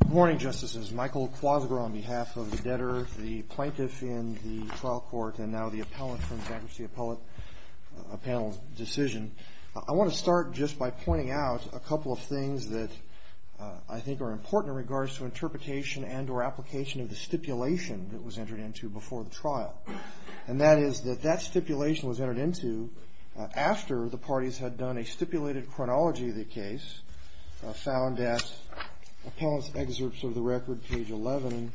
Good morning, Justices. Michael Quasinger on behalf of the debtor, the plaintiff in the trial court, and now the appellant from the bankruptcy appellate panel's decision. I want to start just by pointing out a couple of things that I think are important in regards to interpretation and or application of the stipulation that was entered into before the trial. And that is that that stipulation was entered into after the parties had done a stipulated chronology of the case found at appellant's excerpts of the record, page 11,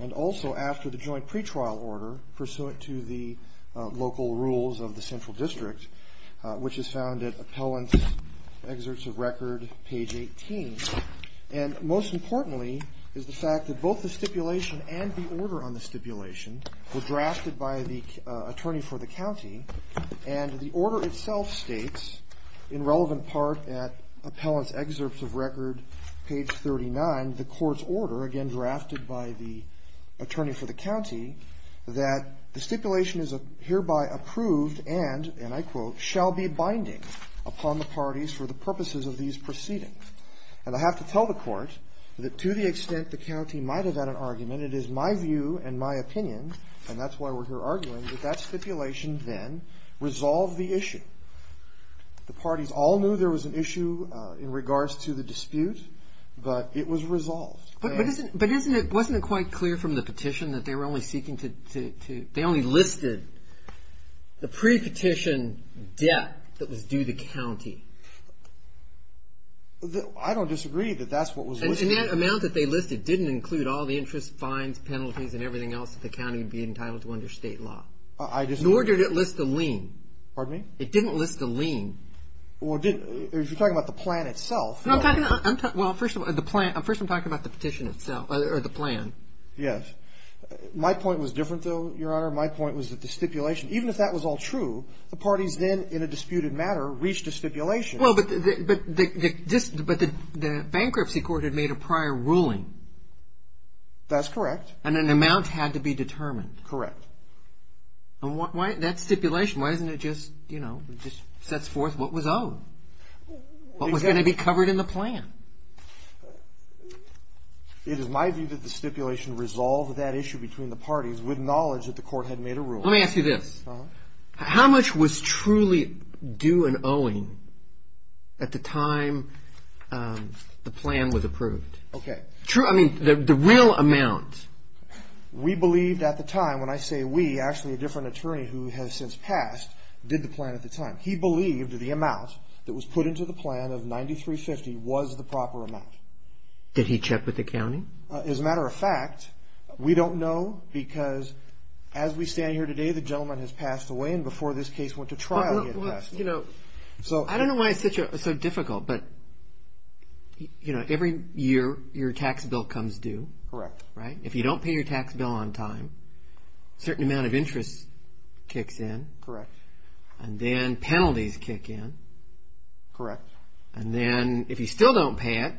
and also after the joint pretrial order pursuant to the local rules of the central district, which is found at appellant's excerpts of record, page 18. And most importantly is the fact that both the stipulation and the order on the stipulation were drafted by the attorney for the county. And the order itself states, in relevant part at appellant's excerpts of record, page 39, the court's order, again drafted by the attorney for the county, that the stipulation is hereby approved and, and I quote, shall be binding upon the parties for the purposes of these proceedings. And I have to tell the court that to the extent the county might have had an argument, it is my view and my opinion, and that's why we're here arguing, that that stipulation then resolved the issue. The parties all knew there was an issue in regards to the dispute, but it was resolved. But isn't it, wasn't it quite clear from the petition that they were only seeking to, they only listed the pre-petition debt that was due the county? I don't disagree that that's what was listed. And that amount that they listed didn't include all the interest, fines, penalties, and everything else that the county would be entitled to under state law. I disagree. Nor did it list the lien. Pardon me? It didn't list the lien. Well, if you're talking about the plan itself. Well, first of all, the plan, first I'm talking about the petition itself, or the plan. Yes. My point was different, though, Your Honor. My point was that the stipulation, even if that was all true, the parties then, in a disputed matter, reached a stipulation. Well, but the bankruptcy court had made a prior ruling. That's correct. And an amount had to be determined. Correct. And why, that stipulation, why isn't it just, you know, just sets forth what was owed? What was going to be covered in the plan? It is my view that the stipulation resolved that issue between the parties with knowledge that the court had made a ruling. Let me ask you this. Uh-huh. How much was truly due and owing at the time the plan was approved? Okay. True, I mean, the real amount. We believed at the time, when I say we, actually a different attorney who has since passed did the plan at the time. He believed the amount that was put into the plan of $93.50 was the proper amount. Did he check with the county? As a matter of fact, we don't know because as we stand here today, the gentleman has passed away, and before this case went to trial he had passed away. Well, you know, I don't know why it's so difficult, but, you know, every year your tax bill comes due. Correct. Right? If you don't pay your tax bill on time, a certain amount of interest kicks in. Correct. And then penalties kick in. Correct. And then if you still don't pay it,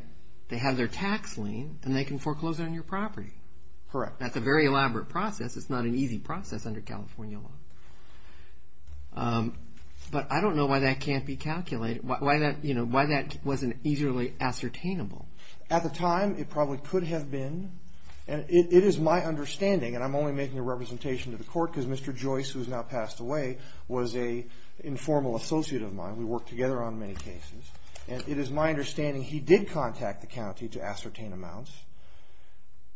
they have their tax lien and they can foreclose it on your property. Correct. That's a very elaborate process. It's not an easy process under California law. But I don't know why that can't be calculated, you know, why that wasn't easily ascertainable. At the time, it probably could have been. It is my understanding, and I'm only making a representation to the court because Mr. Joyce, who has now passed away, was an informal associate of mine. We worked together on many cases. And it is my understanding he did contact the county to ascertain amounts,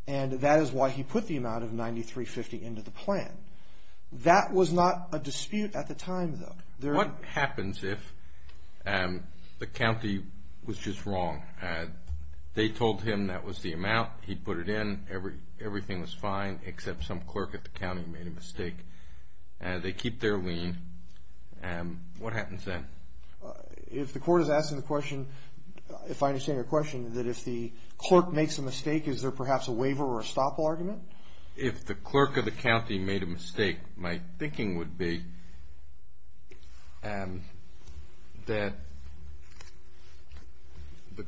and that is why he put the amount of $93.50 into the plan. That was not a dispute at the time, though. What happens if the county was just wrong? They told him that was the amount. He put it in. Everything was fine except some clerk at the county made a mistake. They keep their lien. What happens then? If the court is asking the question, if I understand your question, that if the clerk makes a mistake, is there perhaps a waiver or a stop all argument? If the clerk of the county made a mistake, my thinking would be that the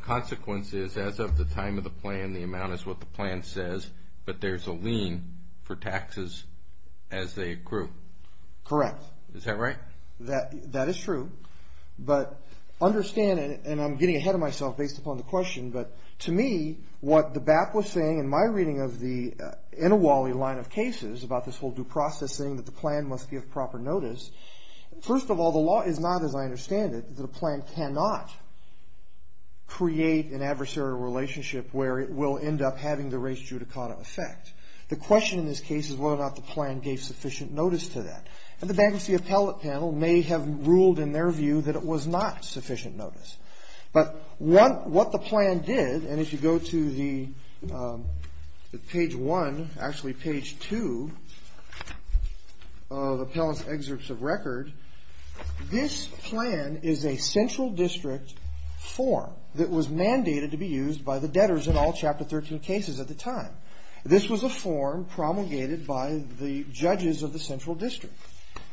consequence is as of the time of the plan, the amount is what the plan says, but there's a lien for taxes as they accrue. Correct. Is that right? That is true. But understand, and I'm getting ahead of myself based upon the question, but to me, what the BAP was saying in my reading of the Inawali line of cases about this whole due process thing, that the plan must be of proper notice, first of all, the law is not, as I understand it, that a plan cannot create an adversarial relationship where it will end up having the race judicata effect. The question in this case is whether or not the plan gave sufficient notice to that. And the bankruptcy appellate panel may have ruled in their view that it was not sufficient notice. But what the plan did, and if you go to the page one, actually page two of appellant's excerpts of record, this plan is a central district form that was mandated to be used by the debtors in all Chapter 13 cases at the time. This was a form promulgated by the judges of the central district.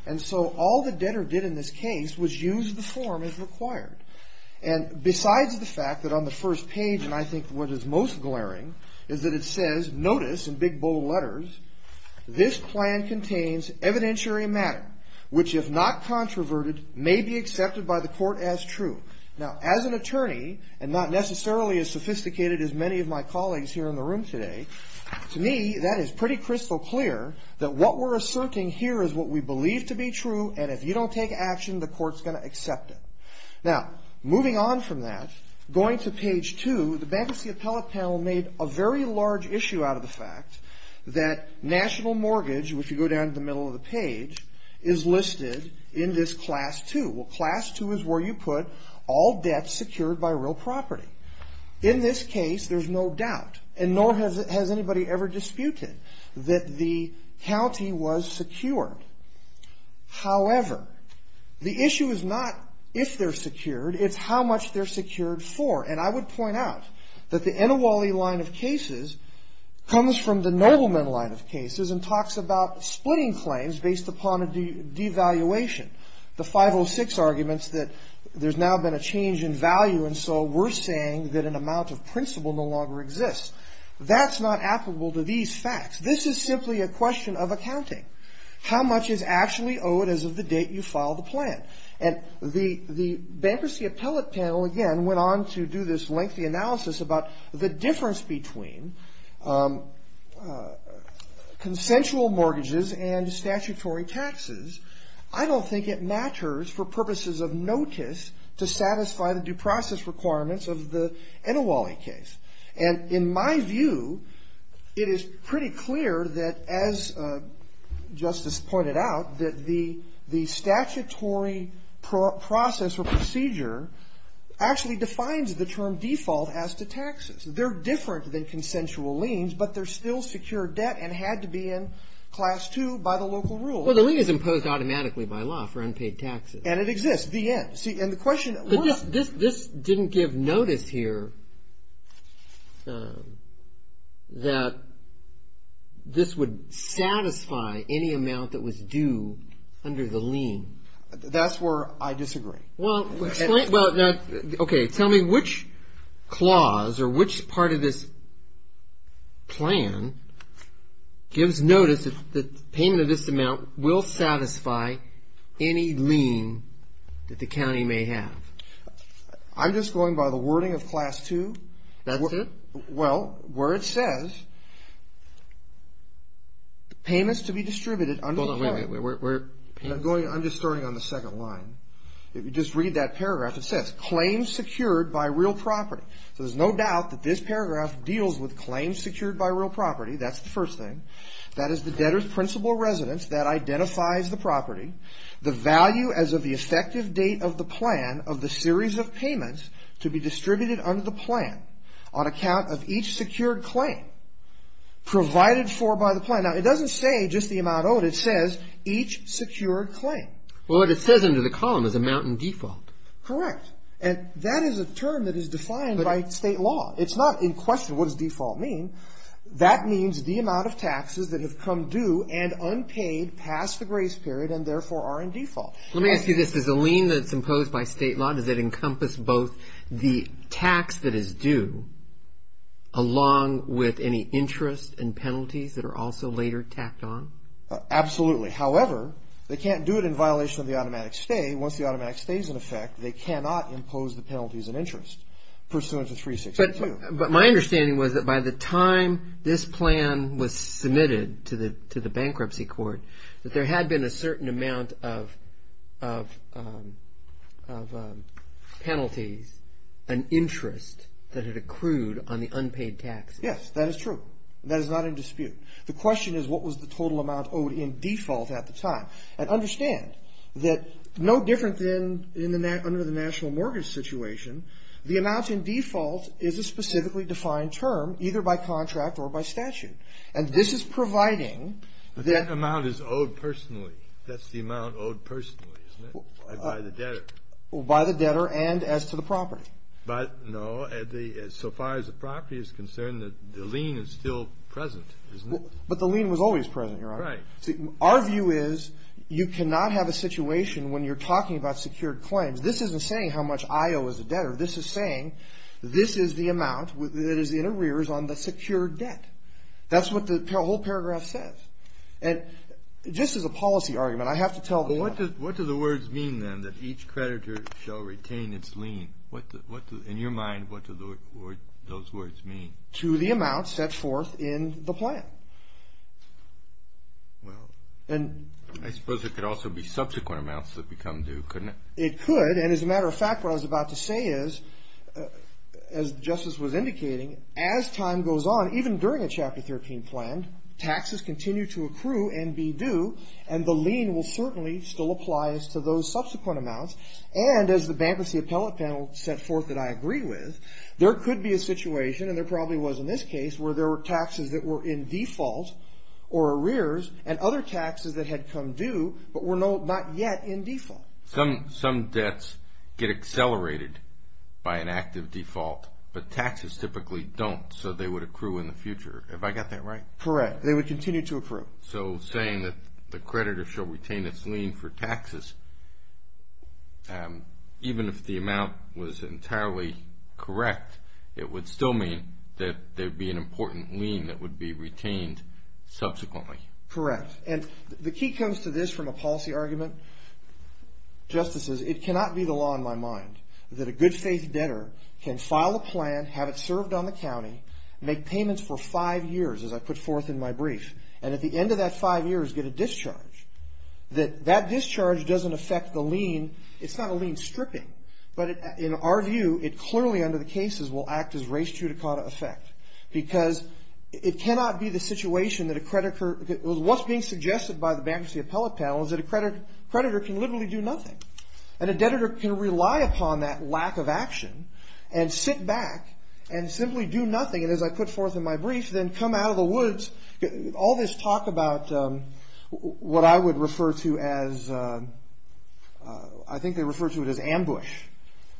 And so all the debtor did in this case was use the form as required. And besides the fact that on the first page, and I think what is most glaring, is that it says, notice, in big bold letters, this plan contains evidentiary matter which, if not controverted, may be accepted by the court as true. Now, as an attorney, and not necessarily as sophisticated as many of my colleagues here in the room today, to me, that is pretty crystal clear that what we're asserting here is what we believe to be true, and if you don't take action, the court's going to accept it. Now, moving on from that, going to page two, the bankruptcy appellate panel made a very large issue out of the fact that national mortgage, which you go down to the middle of the page, is listed in this class two. Well, class two is where you put all debts secured by real property. In this case, there's no doubt, and nor has anybody ever disputed, that the county was secured. However, the issue is not if they're secured, it's how much they're secured for. And I would point out that the Inouye line of cases comes from the Nobleman line of cases and talks about splitting claims based upon a devaluation. The 506 arguments that there's now been a change in value, and so we're saying that an amount of principal no longer exists. That's not applicable to these facts. This is simply a question of accounting. How much is actually owed as of the date you file the plan? And the bankruptcy appellate panel, again, went on to do this lengthy analysis about the difference between consensual mortgages and statutory taxes. I don't think it matters for purposes of notice to satisfy the due process requirements of the Inouye case. And in my view, it is pretty clear that, as Justice pointed out, that the statutory process or procedure actually defines the term default as to taxes. They're different than consensual liens, but they're still secured debt and had to be in class two by the local rules. Well, the lien is imposed automatically by law for unpaid taxes. And it exists, the end. But this didn't give notice here that this would satisfy any amount that was due under the lien. That's where I disagree. Well, okay. Tell me which clause or which part of this plan gives notice that the payment of this amount will satisfy any lien that the county may have. I'm just going by the wording of class two. That's it? Well, where it says the payment is to be distributed. Hold on, wait, wait. I'm just starting on the second line. If you just read that paragraph, it says claims secured by real property. So there's no doubt that this paragraph deals with claims secured by real property. That's the first thing. That is the debtor's principal residence that identifies the property, the value as of the effective date of the plan of the series of payments to be distributed under the plan on account of each secured claim provided for by the plan. Now, it doesn't say just the amount owed. It says each secured claim. Well, what it says under the column is amount in default. Correct. And that is a term that is defined by state law. It's not in question what does default mean. That means the amount of taxes that have come due and unpaid past the grace period and therefore are in default. Let me ask you this. Does a lien that's imposed by state law, does it encompass both the tax that is due along with any interest and penalties that are also later tacked on? Absolutely. However, they can't do it in violation of the automatic stay. Once the automatic stay is in effect, they cannot impose the penalties and interest pursuant to 362. But my understanding was that by the time this plan was submitted to the bankruptcy court that there had been a certain amount of penalties and interest that had accrued on the unpaid taxes. Yes, that is true. That is not in dispute. The question is what was the total amount owed in default at the time. And understand that no different than under the national mortgage situation, the amount in default is a specifically defined term either by contract or by statute. And this is providing that amount is owed personally. That's the amount owed personally, isn't it? By the debtor. By the debtor and as to the property. But no, so far as the property is concerned, the lien is still present, isn't it? But the lien was always present, Your Honor. Right. Our view is you cannot have a situation when you're talking about secured claims. This isn't saying how much I owe as a debtor. This is saying this is the amount that is in arrears on the secured debt. That's what the whole paragraph says. And just as a policy argument, I have to tell the audience. What do the words mean, then, that each creditor shall retain its lien? In your mind, what do those words mean? To the amount set forth in the plan. Well, I suppose it could also be subsequent amounts that become due, couldn't it? It could, and as a matter of fact, what I was about to say is, as Justice was indicating, as time goes on, even during a Chapter 13 plan, taxes continue to accrue and be due, and the lien will certainly still apply as to those subsequent amounts. And as the bankruptcy appellate panel set forth that I agree with, there could be a situation, and there probably was in this case, where there were taxes that were in default or arrears, and other taxes that had come due but were not yet in default. Some debts get accelerated by an active default, but taxes typically don't, so they would accrue in the future. Have I got that right? Correct. They would continue to accrue. So saying that the creditor shall retain its lien for taxes, even if the amount was entirely correct, it would still mean that there would be an important lien that would be retained subsequently. Correct. And the key comes to this from a policy argument, Justices, it cannot be the law in my mind that a good faith debtor can file a plan, have it served on the county, make payments for five years, as I put forth in my brief, and at the end of that five years get a discharge. That that discharge doesn't affect the lien. It's not a lien stripping, but in our view, it clearly under the cases will act as res judicata effect, because it cannot be the situation that a creditor, what's being suggested by the bankruptcy appellate panel is that a creditor can literally do nothing. And a debtor can rely upon that lack of action and sit back and simply do nothing, and as I put forth in my brief, then come out of the woods. All this talk about what I would refer to as, I think they refer to it as ambush,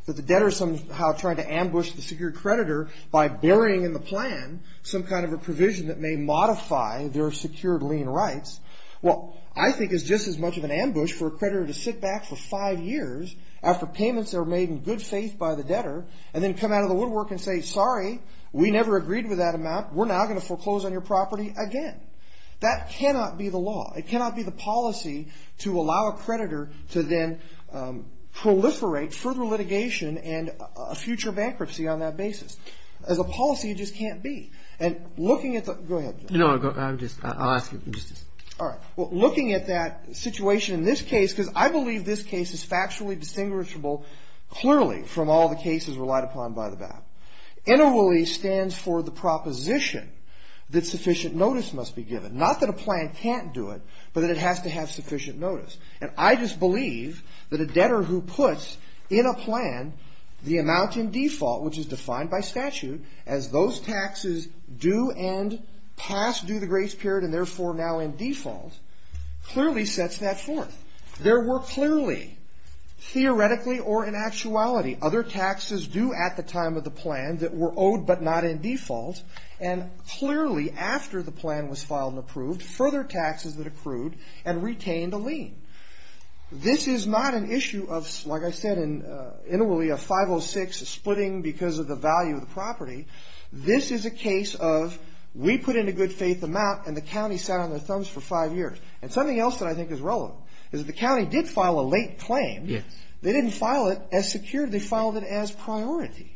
that the debtor is somehow trying to ambush the secured creditor by burying in the plan some kind of a provision that may modify their secured lien rights. Well, I think it's just as much of an ambush for a creditor to sit back for five years after payments are made in good faith by the debtor, and then come out of the woodwork and say, sorry, we never agreed with that amount. We're now going to foreclose on your property again. That cannot be the law. It cannot be the policy to allow a creditor to then proliferate further litigation and a future bankruptcy on that basis. As a policy, it just can't be. And looking at the, go ahead. No, I'm just, I'll ask you. All right. Well, looking at that situation in this case, because I believe this case is factually distinguishable clearly from all the cases relied upon by the BAP, NRELE stands for the proposition that sufficient notice must be given. Not that a plan can't do it, but that it has to have sufficient notice. And I just believe that a debtor who puts in a plan the amount in default, which is defined by statute as those taxes due and past due the grace period and therefore now in default, clearly sets that forth. There were clearly, theoretically or in actuality, other taxes due at the time of the plan that were owed but not in default, and clearly after the plan was filed and approved, further taxes that accrued and retained a lien. This is not an issue of, like I said in Inouye, of 506, splitting because of the value of the property. This is a case of we put in a good faith amount, and the county sat on their thumbs for five years. And something else that I think is relevant is that the county did file a late claim. Yes. They didn't file it as secured. They filed it as priority.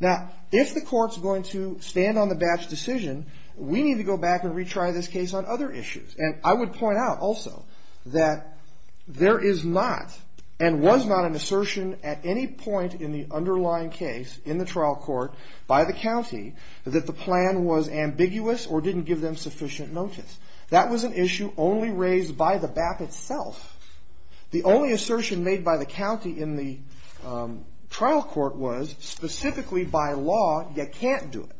Now, if the court's going to stand on the BAP's decision, we need to go back and retry this case on other issues. And I would point out also that there is not and was not an assertion at any point in the underlying case in the trial court by the county that the plan was ambiguous or didn't give them sufficient notice. That was an issue only raised by the BAP itself. The only assertion made by the county in the trial court was, specifically by law, you can't do it.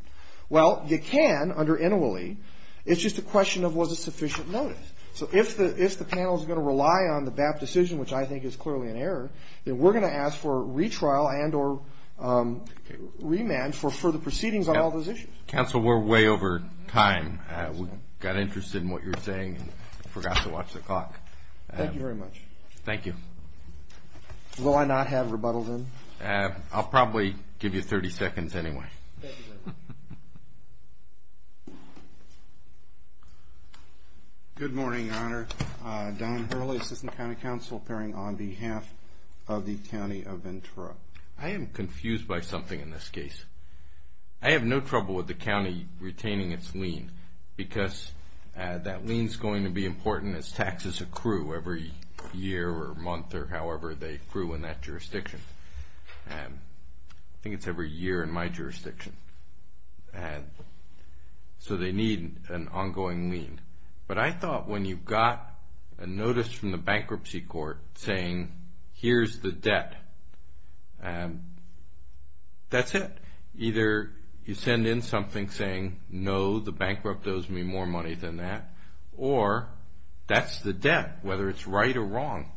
Well, you can under Inouye. It's just a question of was it sufficient notice. So if the panel is going to rely on the BAP decision, which I think is clearly an error, then we're going to ask for retrial and or remand for further proceedings on all those issues. Counsel, we're way over time. We got interested in what you were saying and forgot to watch the clock. Thank you very much. Thank you. Will I not have rebuttal then? I'll probably give you 30 seconds anyway. Thank you very much. Good morning, Your Honor. Don Hurley, Assistant County Counsel, appearing on behalf of the County of Ventura. I am confused by something in this case. I have no trouble with the county retaining its lien because that lien is going to be important as taxes accrue every year or month or however they accrue in that jurisdiction. I think it's every year in my jurisdiction. So they need an ongoing lien. But I thought when you got a notice from the bankruptcy court saying, here's the debt, that's it. Either you send in something saying, no, the bankrupt owes me more money than that, or that's the debt, whether it's right or wrong.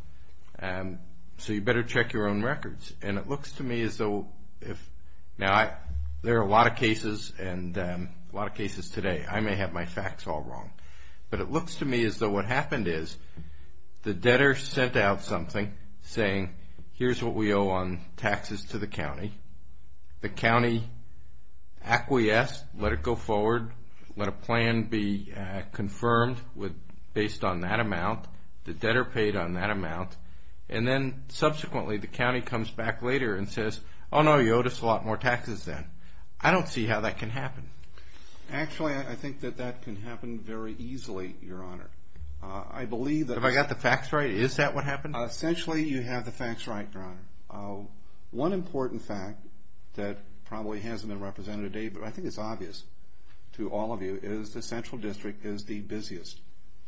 So you better check your own records. And it looks to me as though, now there are a lot of cases and a lot of cases today. I may have my facts all wrong. But it looks to me as though what happened is the debtor sent out something saying, here's what we owe on taxes to the county. The county acquiesced, let it go forward, let a plan be confirmed based on that amount. The debtor paid on that amount. And then subsequently the county comes back later and says, oh, no, you owed us a lot more taxes then. I don't see how that can happen. Actually, I think that that can happen very easily, Your Honor. I believe that. Have I got the facts right? Is that what happened? Essentially, you have the facts right, Your Honor. One important fact that probably hasn't been represented today, but I think it's obvious to all of you, is the central district is the busiest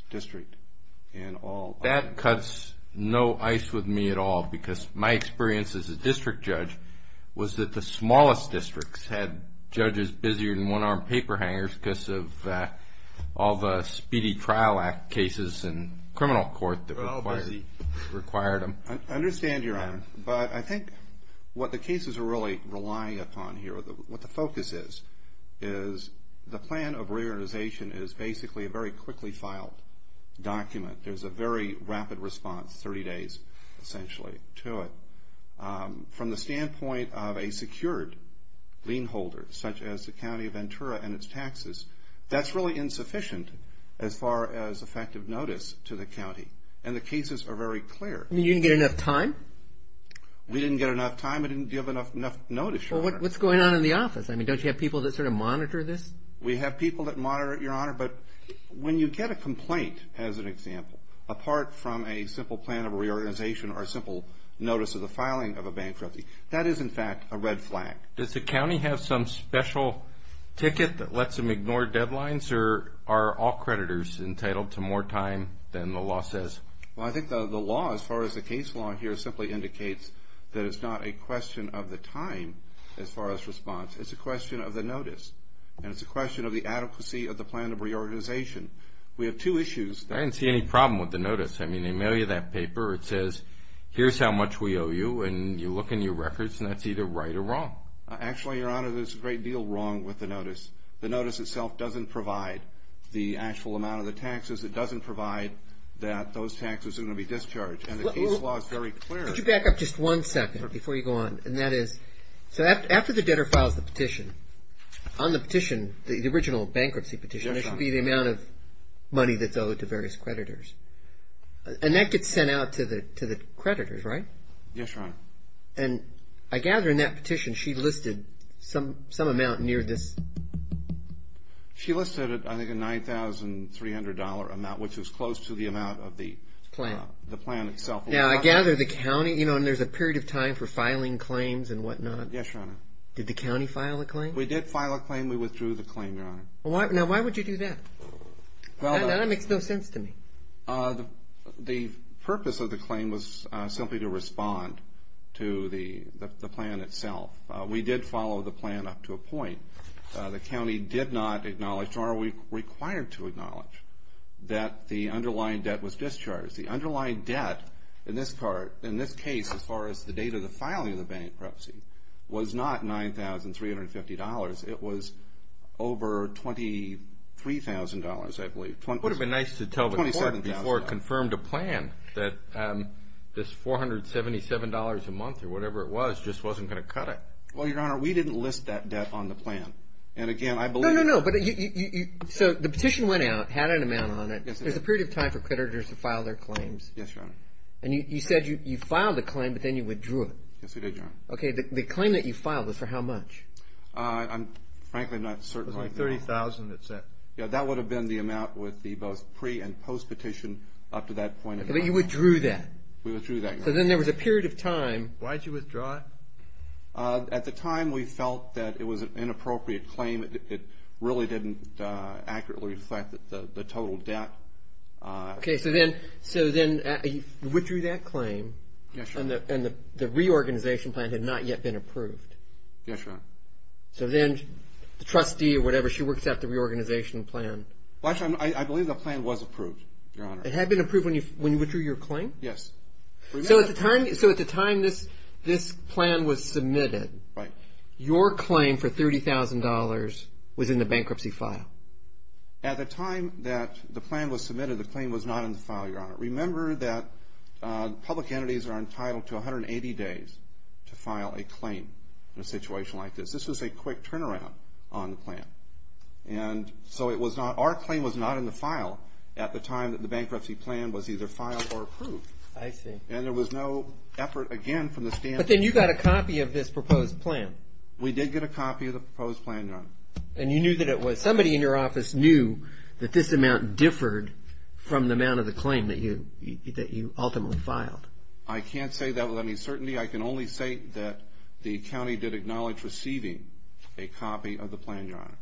district in all. That cuts no ice with me at all because my experience as a district judge was that the smallest districts had judges busier than one-armed paper hangers because of all the speedy trial act cases and criminal court that required them. I understand, Your Honor. But I think what the cases are really relying upon here, what the focus is, is the plan of reorganization is basically a very quickly filed document. There's a very rapid response, 30 days essentially, to it. From the standpoint of a secured lien holder, such as the county of Ventura and its taxes, that's really insufficient as far as effective notice to the county. And the cases are very clear. You didn't get enough time? We didn't get enough time. I didn't give enough notice, Your Honor. What's going on in the office? I mean, don't you have people that sort of monitor this? We have people that monitor it, Your Honor. But when you get a complaint, as an example, apart from a simple plan of reorganization or a simple notice of the filing of a bank trophy, that is, in fact, a red flag. Does the county have some special ticket that lets them ignore deadlines or are all creditors entitled to more time than the law says? Well, I think the law, as far as the case law here, simply indicates that it's not a question of the time as far as response. It's a question of the notice. And it's a question of the adequacy of the plan of reorganization. We have two issues. I didn't see any problem with the notice. I mean, they mail you that paper. It says, here's how much we owe you. And you look in your records, and that's either right or wrong. Actually, Your Honor, there's a great deal wrong with the notice. The notice itself doesn't provide the actual amount of the taxes. It doesn't provide that those taxes are going to be discharged. And the case law is very clear. Could you back up just one second before you go on? And that is, so after the debtor files the petition, on the petition, the original bankruptcy petition, there should be the amount of money that's owed to various creditors. And that gets sent out to the creditors, right? Yes, Your Honor. And I gather in that petition she listed some amount near this. She listed, I think, a $9,300 amount, which is close to the amount of the plan itself. Now, I gather the county, you know, and there's a period of time for filing claims and whatnot. Yes, Your Honor. Did the county file a claim? We did file a claim. We withdrew the claim, Your Honor. Now, why would you do that? That makes no sense to me. The purpose of the claim was simply to respond to the plan itself. We did follow the plan up to a point. The county did not acknowledge, nor are we required to acknowledge, that the underlying debt was discharged. The underlying debt in this case, as far as the date of the filing of the bankruptcy, was not $9,350. It was over $23,000, I believe. It would have been nice to tell the court before it confirmed a plan that this $477 a month or whatever it was just wasn't going to cut it. Well, Your Honor, we didn't list that debt on the plan. No, no, no. So the petition went out, had an amount on it. There's a period of time for creditors to file their claims. Yes, Your Honor. And you said you filed a claim, but then you withdrew it. Yes, we did, Your Honor. Okay, the claim that you filed was for how much? I'm frankly not certain right now. It was like $30,000, that's it. Yeah, that would have been the amount with the both pre- and post-petition up to that point. But you withdrew that. We withdrew that, Your Honor. So then there was a period of time. Why did you withdraw it? At the time we felt that it was an inappropriate claim. It really didn't accurately reflect the total debt. Okay, so then you withdrew that claim. Yes, Your Honor. And the reorganization plan had not yet been approved. Yes, Your Honor. So then the trustee or whatever, she works out the reorganization plan. I believe the plan was approved, Your Honor. It had been approved when you withdrew your claim? Yes. So at the time this plan was submitted, your claim for $30,000 was in the bankruptcy file? At the time that the plan was submitted, the claim was not in the file, Your Honor. Remember that public entities are entitled to 180 days to file a claim in a situation like this. This was a quick turnaround on the plan. And so our claim was not in the file at the time that the bankruptcy plan was either filed or approved. I see. And there was no effort again from the standpoint. But then you got a copy of this proposed plan. We did get a copy of the proposed plan, Your Honor. And you knew that it was. Somebody in your office knew that this amount differed from the amount of the claim that you ultimately filed. I can't say that with any certainty. I can only say that the county did acknowledge receiving a copy of the plan, Your Honor.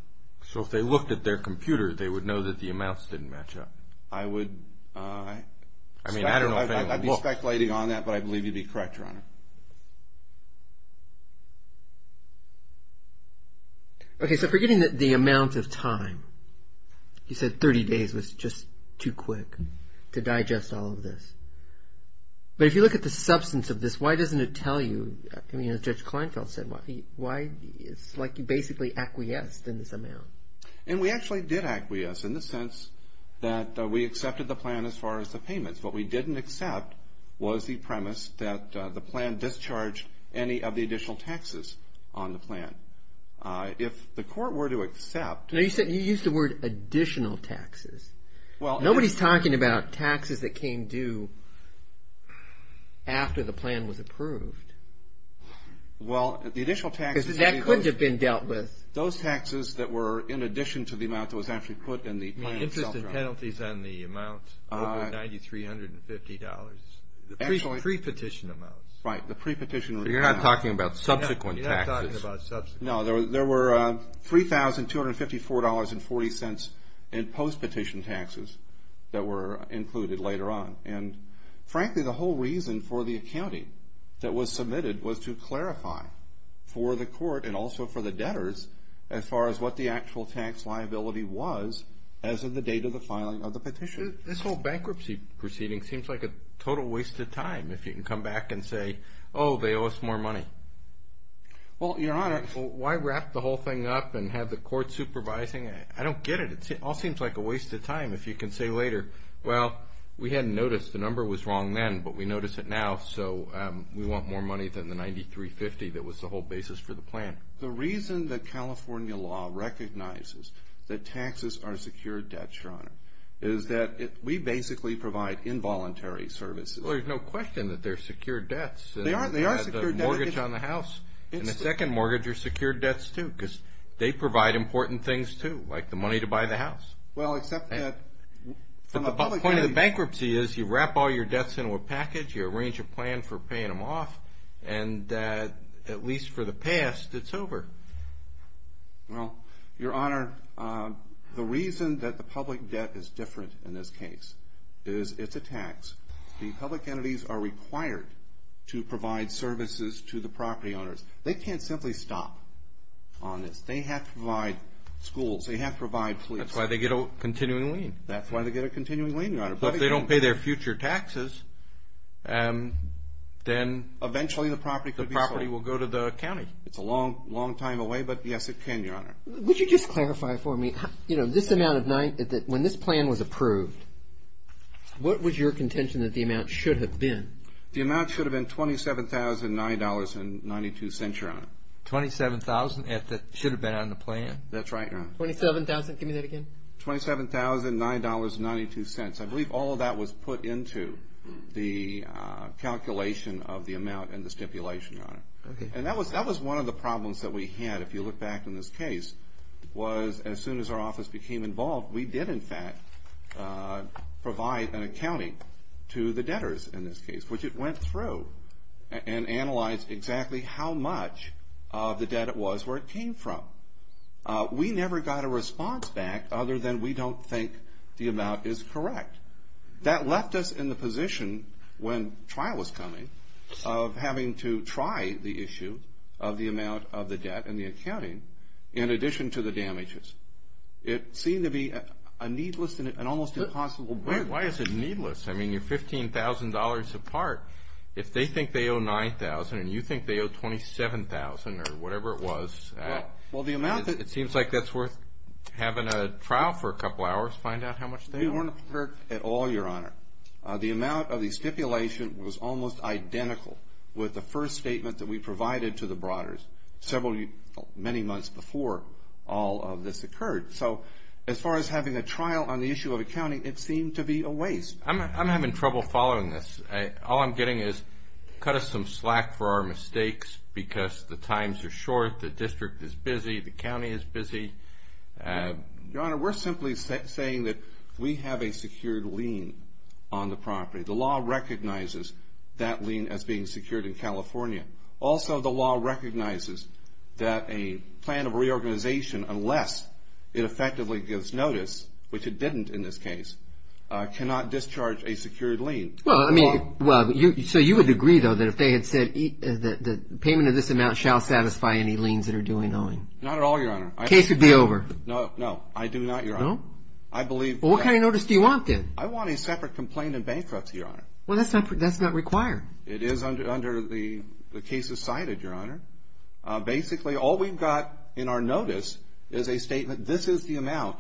So if they looked at their computer, they would know that the amounts didn't match up. I would be speculating on that, but I believe you'd be correct, Your Honor. Okay, so forgetting the amount of time, you said 30 days was just too quick to digest all of this. But if you look at the substance of this, why doesn't it tell you, as Judge Kleinfeld said, why it's like you basically acquiesced in this amount. And we actually did acquiesce in the sense that we accepted the plan as far as the payments. What we didn't accept was the premise that the plan discharged any of the additional taxes on the plan. If the court were to accept- No, you said you used the word additional taxes. Nobody's talking about taxes that came due after the plan was approved. Well, the additional taxes- Because that could have been dealt with. Those taxes that were in addition to the amount that was actually put in the plan itself- You mean interest and penalties on the amount over $9,350. Actually- Pre-petition amounts. Right, the pre-petition- So you're not talking about subsequent taxes. You're not talking about subsequent- No, there were $3,254.40 in post-petition taxes that were included later on. And frankly, the whole reason for the accounting that was submitted was to clarify for the court and also for the debtors as far as what the actual tax liability was as of the date of the filing of the petition. This whole bankruptcy proceeding seems like a total waste of time if you can come back and say, Oh, they owe us more money. Well, Your Honor- Why wrap the whole thing up and have the court supervising? I don't get it. It all seems like a waste of time if you can say later, Well, we hadn't noticed the number was wrong then, but we notice it now, so we want more money than the $9,350 that was the whole basis for the plan. The reason that California law recognizes that taxes are secured debts, Your Honor, is that we basically provide involuntary services. Well, there's no question that they're secured debts. They are secured debts. The mortgage on the house and the second mortgage are secured debts, too, because they provide important things, too, like the money to buy the house. Well, except that- The point of the bankruptcy is you wrap all your debts into a package, you arrange a plan for paying them off, and at least for the past, it's over. Well, Your Honor, the reason that the public debt is different in this case is it's a tax. The public entities are required to provide services to the property owners. They can't simply stop on this. They have to provide schools. They have to provide police. That's why they get a continuing lien. That's why they get a continuing lien, Your Honor. But if they don't pay their future taxes, then eventually the property could be sold. The property will go to the county. It's a long, long time away, but, yes, it can, Your Honor. Would you just clarify for me, you know, this amount of $9,000, when this plan was approved, what was your contention that the amount should have been? The amount should have been $27,009.92, Your Honor. $27,000 that should have been on the plan? That's right, Your Honor. $27,000, give me that again. $27,009.92. I believe all of that was put into the calculation of the amount and the stipulation, Your Honor. Okay. And that was one of the problems that we had, if you look back on this case, was as soon as our office became involved, we did, in fact, provide an accounting to the debtors in this case, which it went through and analyzed exactly how much of the debt it was where it came from. We never got a response back other than we don't think the amount is correct. That left us in the position when trial was coming of having to try the issue of the amount of the debt and the accounting in addition to the damages. It seemed to be a needless and almost impossible bid. Why is it needless? I mean, you're $15,000 apart. If they think they owe $9,000 and you think they owe $27,000 or whatever it was. Well, the amount that It seems like that's worth having a trial for a couple hours, find out how much they owe. They weren't hurt at all, Your Honor. The amount of the stipulation was almost identical with the first statement that we provided to the brodders several, many months before all of this occurred. So as far as having a trial on the issue of accounting, it seemed to be a waste. I'm having trouble following this. All I'm getting is cut us some slack for our mistakes because the times are short, the district is busy, the county is busy. Your Honor, we're simply saying that we have a secured lien on the property. The law recognizes that lien as being secured in California. Also, the law recognizes that a plan of reorganization, unless it effectively gives notice, which it didn't in this case, cannot discharge a secured lien. So you would agree, though, that if they had said the payment of this amount shall satisfy any liens that are due in owing. Not at all, Your Honor. The case would be over. No, no, I do not, Your Honor. Well, what kind of notice do you want then? I want a separate complaint in bankruptcy, Your Honor. Well, that's not required. It is under the cases cited, Your Honor. Basically, all we've got in our notice is a statement, this is the amount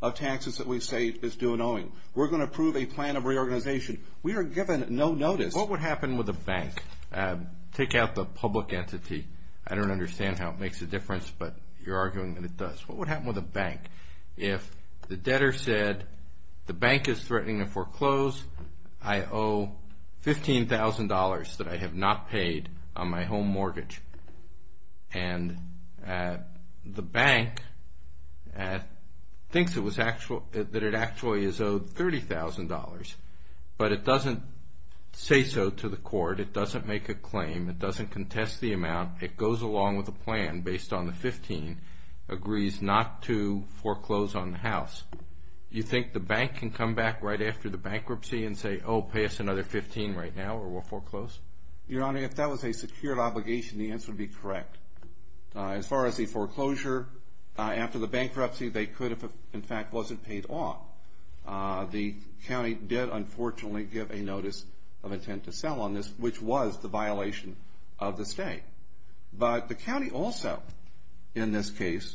of taxes that we say is due in owing. We're going to approve a plan of reorganization. We are given no notice. What would happen with a bank? Take out the public entity. I don't understand how it makes a difference, but you're arguing that it does. What would happen with a bank if the debtor said the bank is threatening to foreclose? I owe $15,000 that I have not paid on my home mortgage. And the bank thinks that it actually is owed $30,000, but it doesn't say so to the court. It doesn't make a claim. It doesn't contest the amount. It goes along with a plan based on the $15,000, agrees not to foreclose on the house. You think the bank can come back right after the bankruptcy and say, oh, pay us another $15,000 right now or we'll foreclose? Your Honor, if that was a secured obligation, the answer would be correct. As far as the foreclosure, after the bankruptcy, they could have, in fact, wasn't paid off. The county did, unfortunately, give a notice of intent to sell on this, which was the violation of the stay. But the county also, in this case,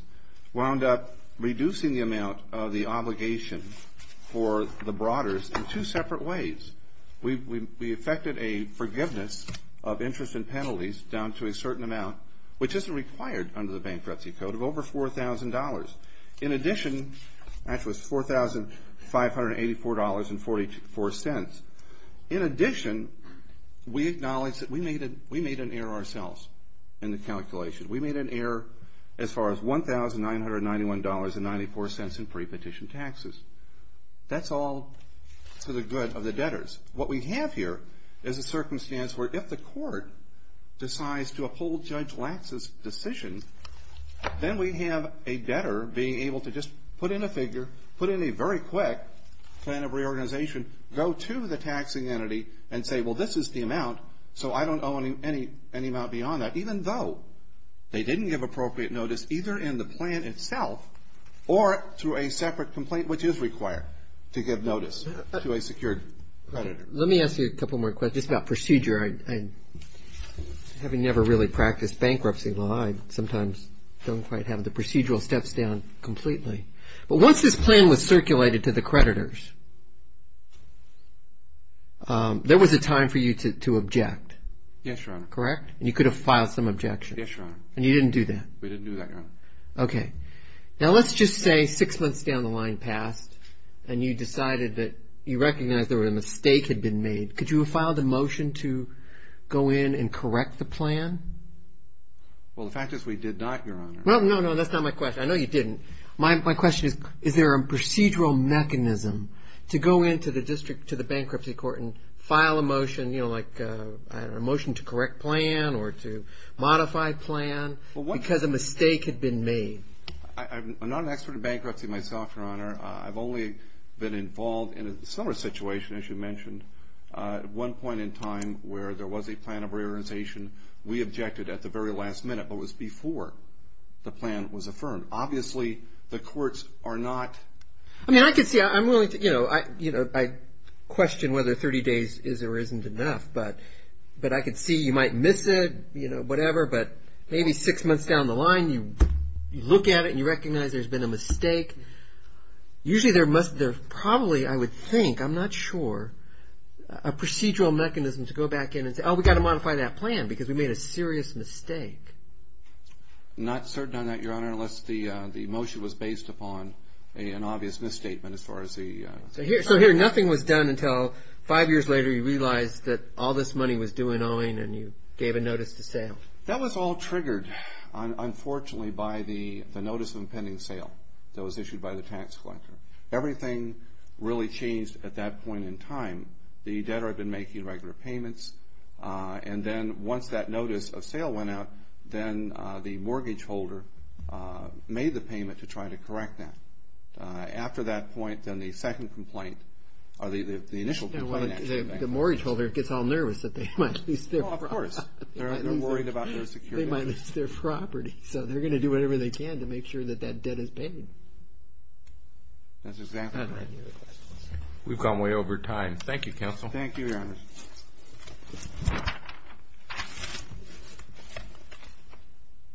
wound up reducing the amount of the obligation for the Broaders in two separate ways. We effected a forgiveness of interest and penalties down to a certain amount, which isn't required under the Bankruptcy Code, of over $4,000. In addition, that was $4,584.44. In addition, we acknowledge that we made an error ourselves in the calculation. We made an error as far as $1,991.94 in prepetition taxes. That's all for the good of the debtors. What we have here is a circumstance where if the court decides to uphold Judge Lax's decision, then we have a debtor being able to just put in a figure, put in a very quick plan of reorganization, go to the taxing entity and say, well, this is the amount, so I don't owe any amount beyond that, even though they didn't give appropriate notice either in the plan itself or through a separate complaint, which is required to give notice to a secured creditor. Let me ask you a couple more questions about procedure. Having never really practiced bankruptcy law, I sometimes don't quite have the procedural steps down completely. But once this plan was circulated to the creditors, there was a time for you to object. Yes, Your Honor. Correct? And you could have filed some objections. Yes, Your Honor. And you didn't do that? We didn't do that, Your Honor. Okay. Now let's just say six months down the line passed and you decided that you recognized there was a mistake had been made. Could you have filed a motion to go in and correct the plan? Well, the fact is we did not, Your Honor. No, no, no, that's not my question. I know you didn't. My question is, is there a procedural mechanism to go into the district, to the bankruptcy court, and file a motion, you know, like a motion to correct plan or to modify plan because a mistake had been made? I'm not an expert in bankruptcy myself, Your Honor. I've only been involved in a similar situation, as you mentioned, at one point in time where there was a plan of reorganization. We objected at the very last minute, but it was before the plan was affirmed. Obviously, the courts are not. I mean, I could see, I'm willing to, you know, I question whether 30 days is or isn't enough, but I could see you might miss it, you know, whatever, but maybe six months down the line you look at it and you recognize there's been a mistake. Usually there must have probably, I would think, I'm not sure, a procedural mechanism to go back in and say, oh, we've got to modify that plan because we made a serious mistake. Not certain on that, Your Honor, unless the motion was based upon an obvious misstatement as far as the... So here nothing was done until five years later you realized that all this money was due in owing and you gave a notice to sale. That was all triggered, unfortunately, by the notice of impending sale that was issued by the tax collector. Everything really changed at that point in time. The debtor had been making regular payments, and then once that notice of sale went out, then the mortgage holder made the payment to try to correct that. After that point, then the second complaint, or the initial complaint... The mortgage holder gets all nervous that they might lose their property. Of course, they're worried about their security. They might lose their property, so they're going to do whatever they can to make sure that that debt is paid. That's exactly right. We've gone way over time. Thank you, Counsel. Thank you, Your Honor.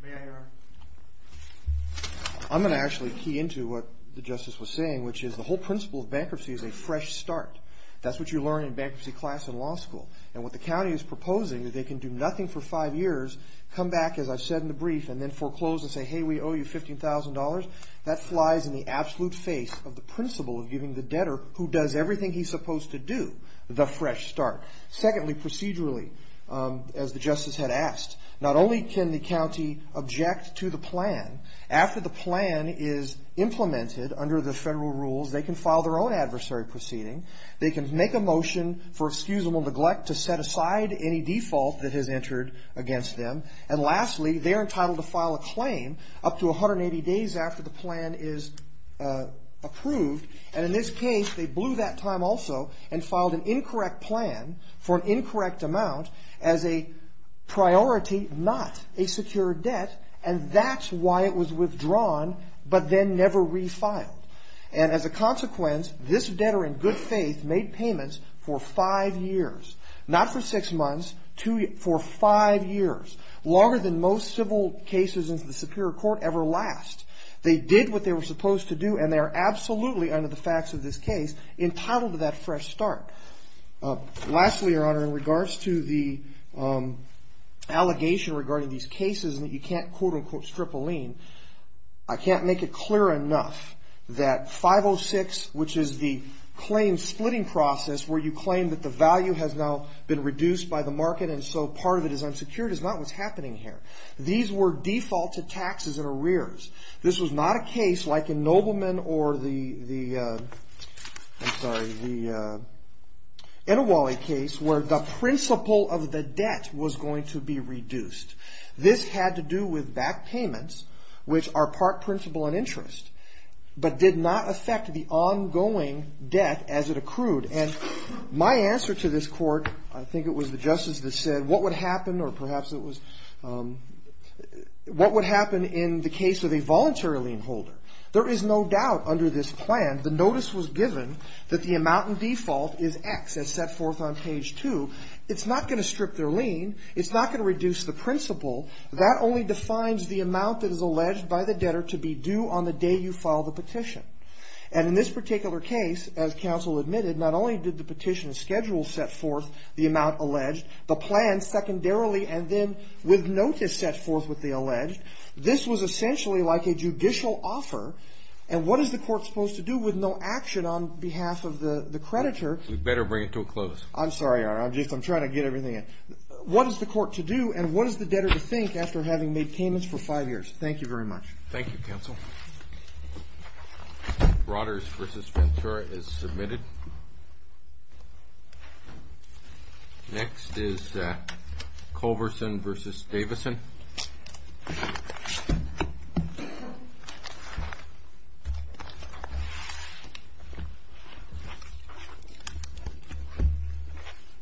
May I, Your Honor? I'm going to actually key into what the Justice was saying, which is the whole principle of bankruptcy is a fresh start. That's what you learn in bankruptcy class in law school. And what the county is proposing is they can do nothing for five years, come back, as I've said in the brief, and then foreclose and say, hey, we owe you $15,000. That flies in the absolute face of the principle of giving the debtor, who does everything he's supposed to do, the fresh start. Secondly, procedurally, as the Justice had asked, not only can the county object to the plan, after the plan is implemented under the federal rules, they can file their own adversary proceeding. They can make a motion for excusable neglect to set aside any default that has entered against them. And lastly, they're entitled to file a claim up to 180 days after the plan is approved. And in this case, they blew that time also and filed an incorrect plan for an incorrect amount as a priority, not a secure debt, and that's why it was withdrawn but then never refiled. And as a consequence, this debtor in good faith made payments for five years, not for six months, for five years, longer than most civil cases in the superior court ever last. They did what they were supposed to do, and they are absolutely, under the facts of this case, entitled to that fresh start. Lastly, Your Honor, in regards to the allegation regarding these cases that you can't quote-unquote strip a lien, I can't make it clear enough that 506, which is the claim splitting process where you claim that the value has now been reduced by the market and so part of it is unsecured, is not what's happening here. These were defaulted taxes and arrears. This was not a case like in Nobleman or the, I'm sorry, the Etiwale case where the principle of the debt was going to be reduced. This had to do with back payments, which are part principle and interest, but did not affect the ongoing debt as it accrued. And my answer to this court, I think it was the justice that said what would happen or perhaps it was, what would happen in the case of a voluntary lien holder? There is no doubt under this plan the notice was given that the amount in default is X as set forth on page 2. It's not going to strip their lien. It's not going to reduce the principle. That only defines the amount that is alleged by the debtor to be due on the day you file the petition. And in this particular case, as counsel admitted, not only did the petition schedule set forth the amount alleged, the plan secondarily and then with notice set forth with the alleged, this was essentially like a judicial offer and what is the court supposed to do with no action on behalf of the creditor? We better bring it to a close. I'm sorry, Your Honor. I'm just, I'm trying to get everything in. What is the court to do and what is the debtor to think after having made payments for five years? Thank you very much. Thank you, counsel. Broaders v. Ventura is submitted. Next is Culverson v. Davison.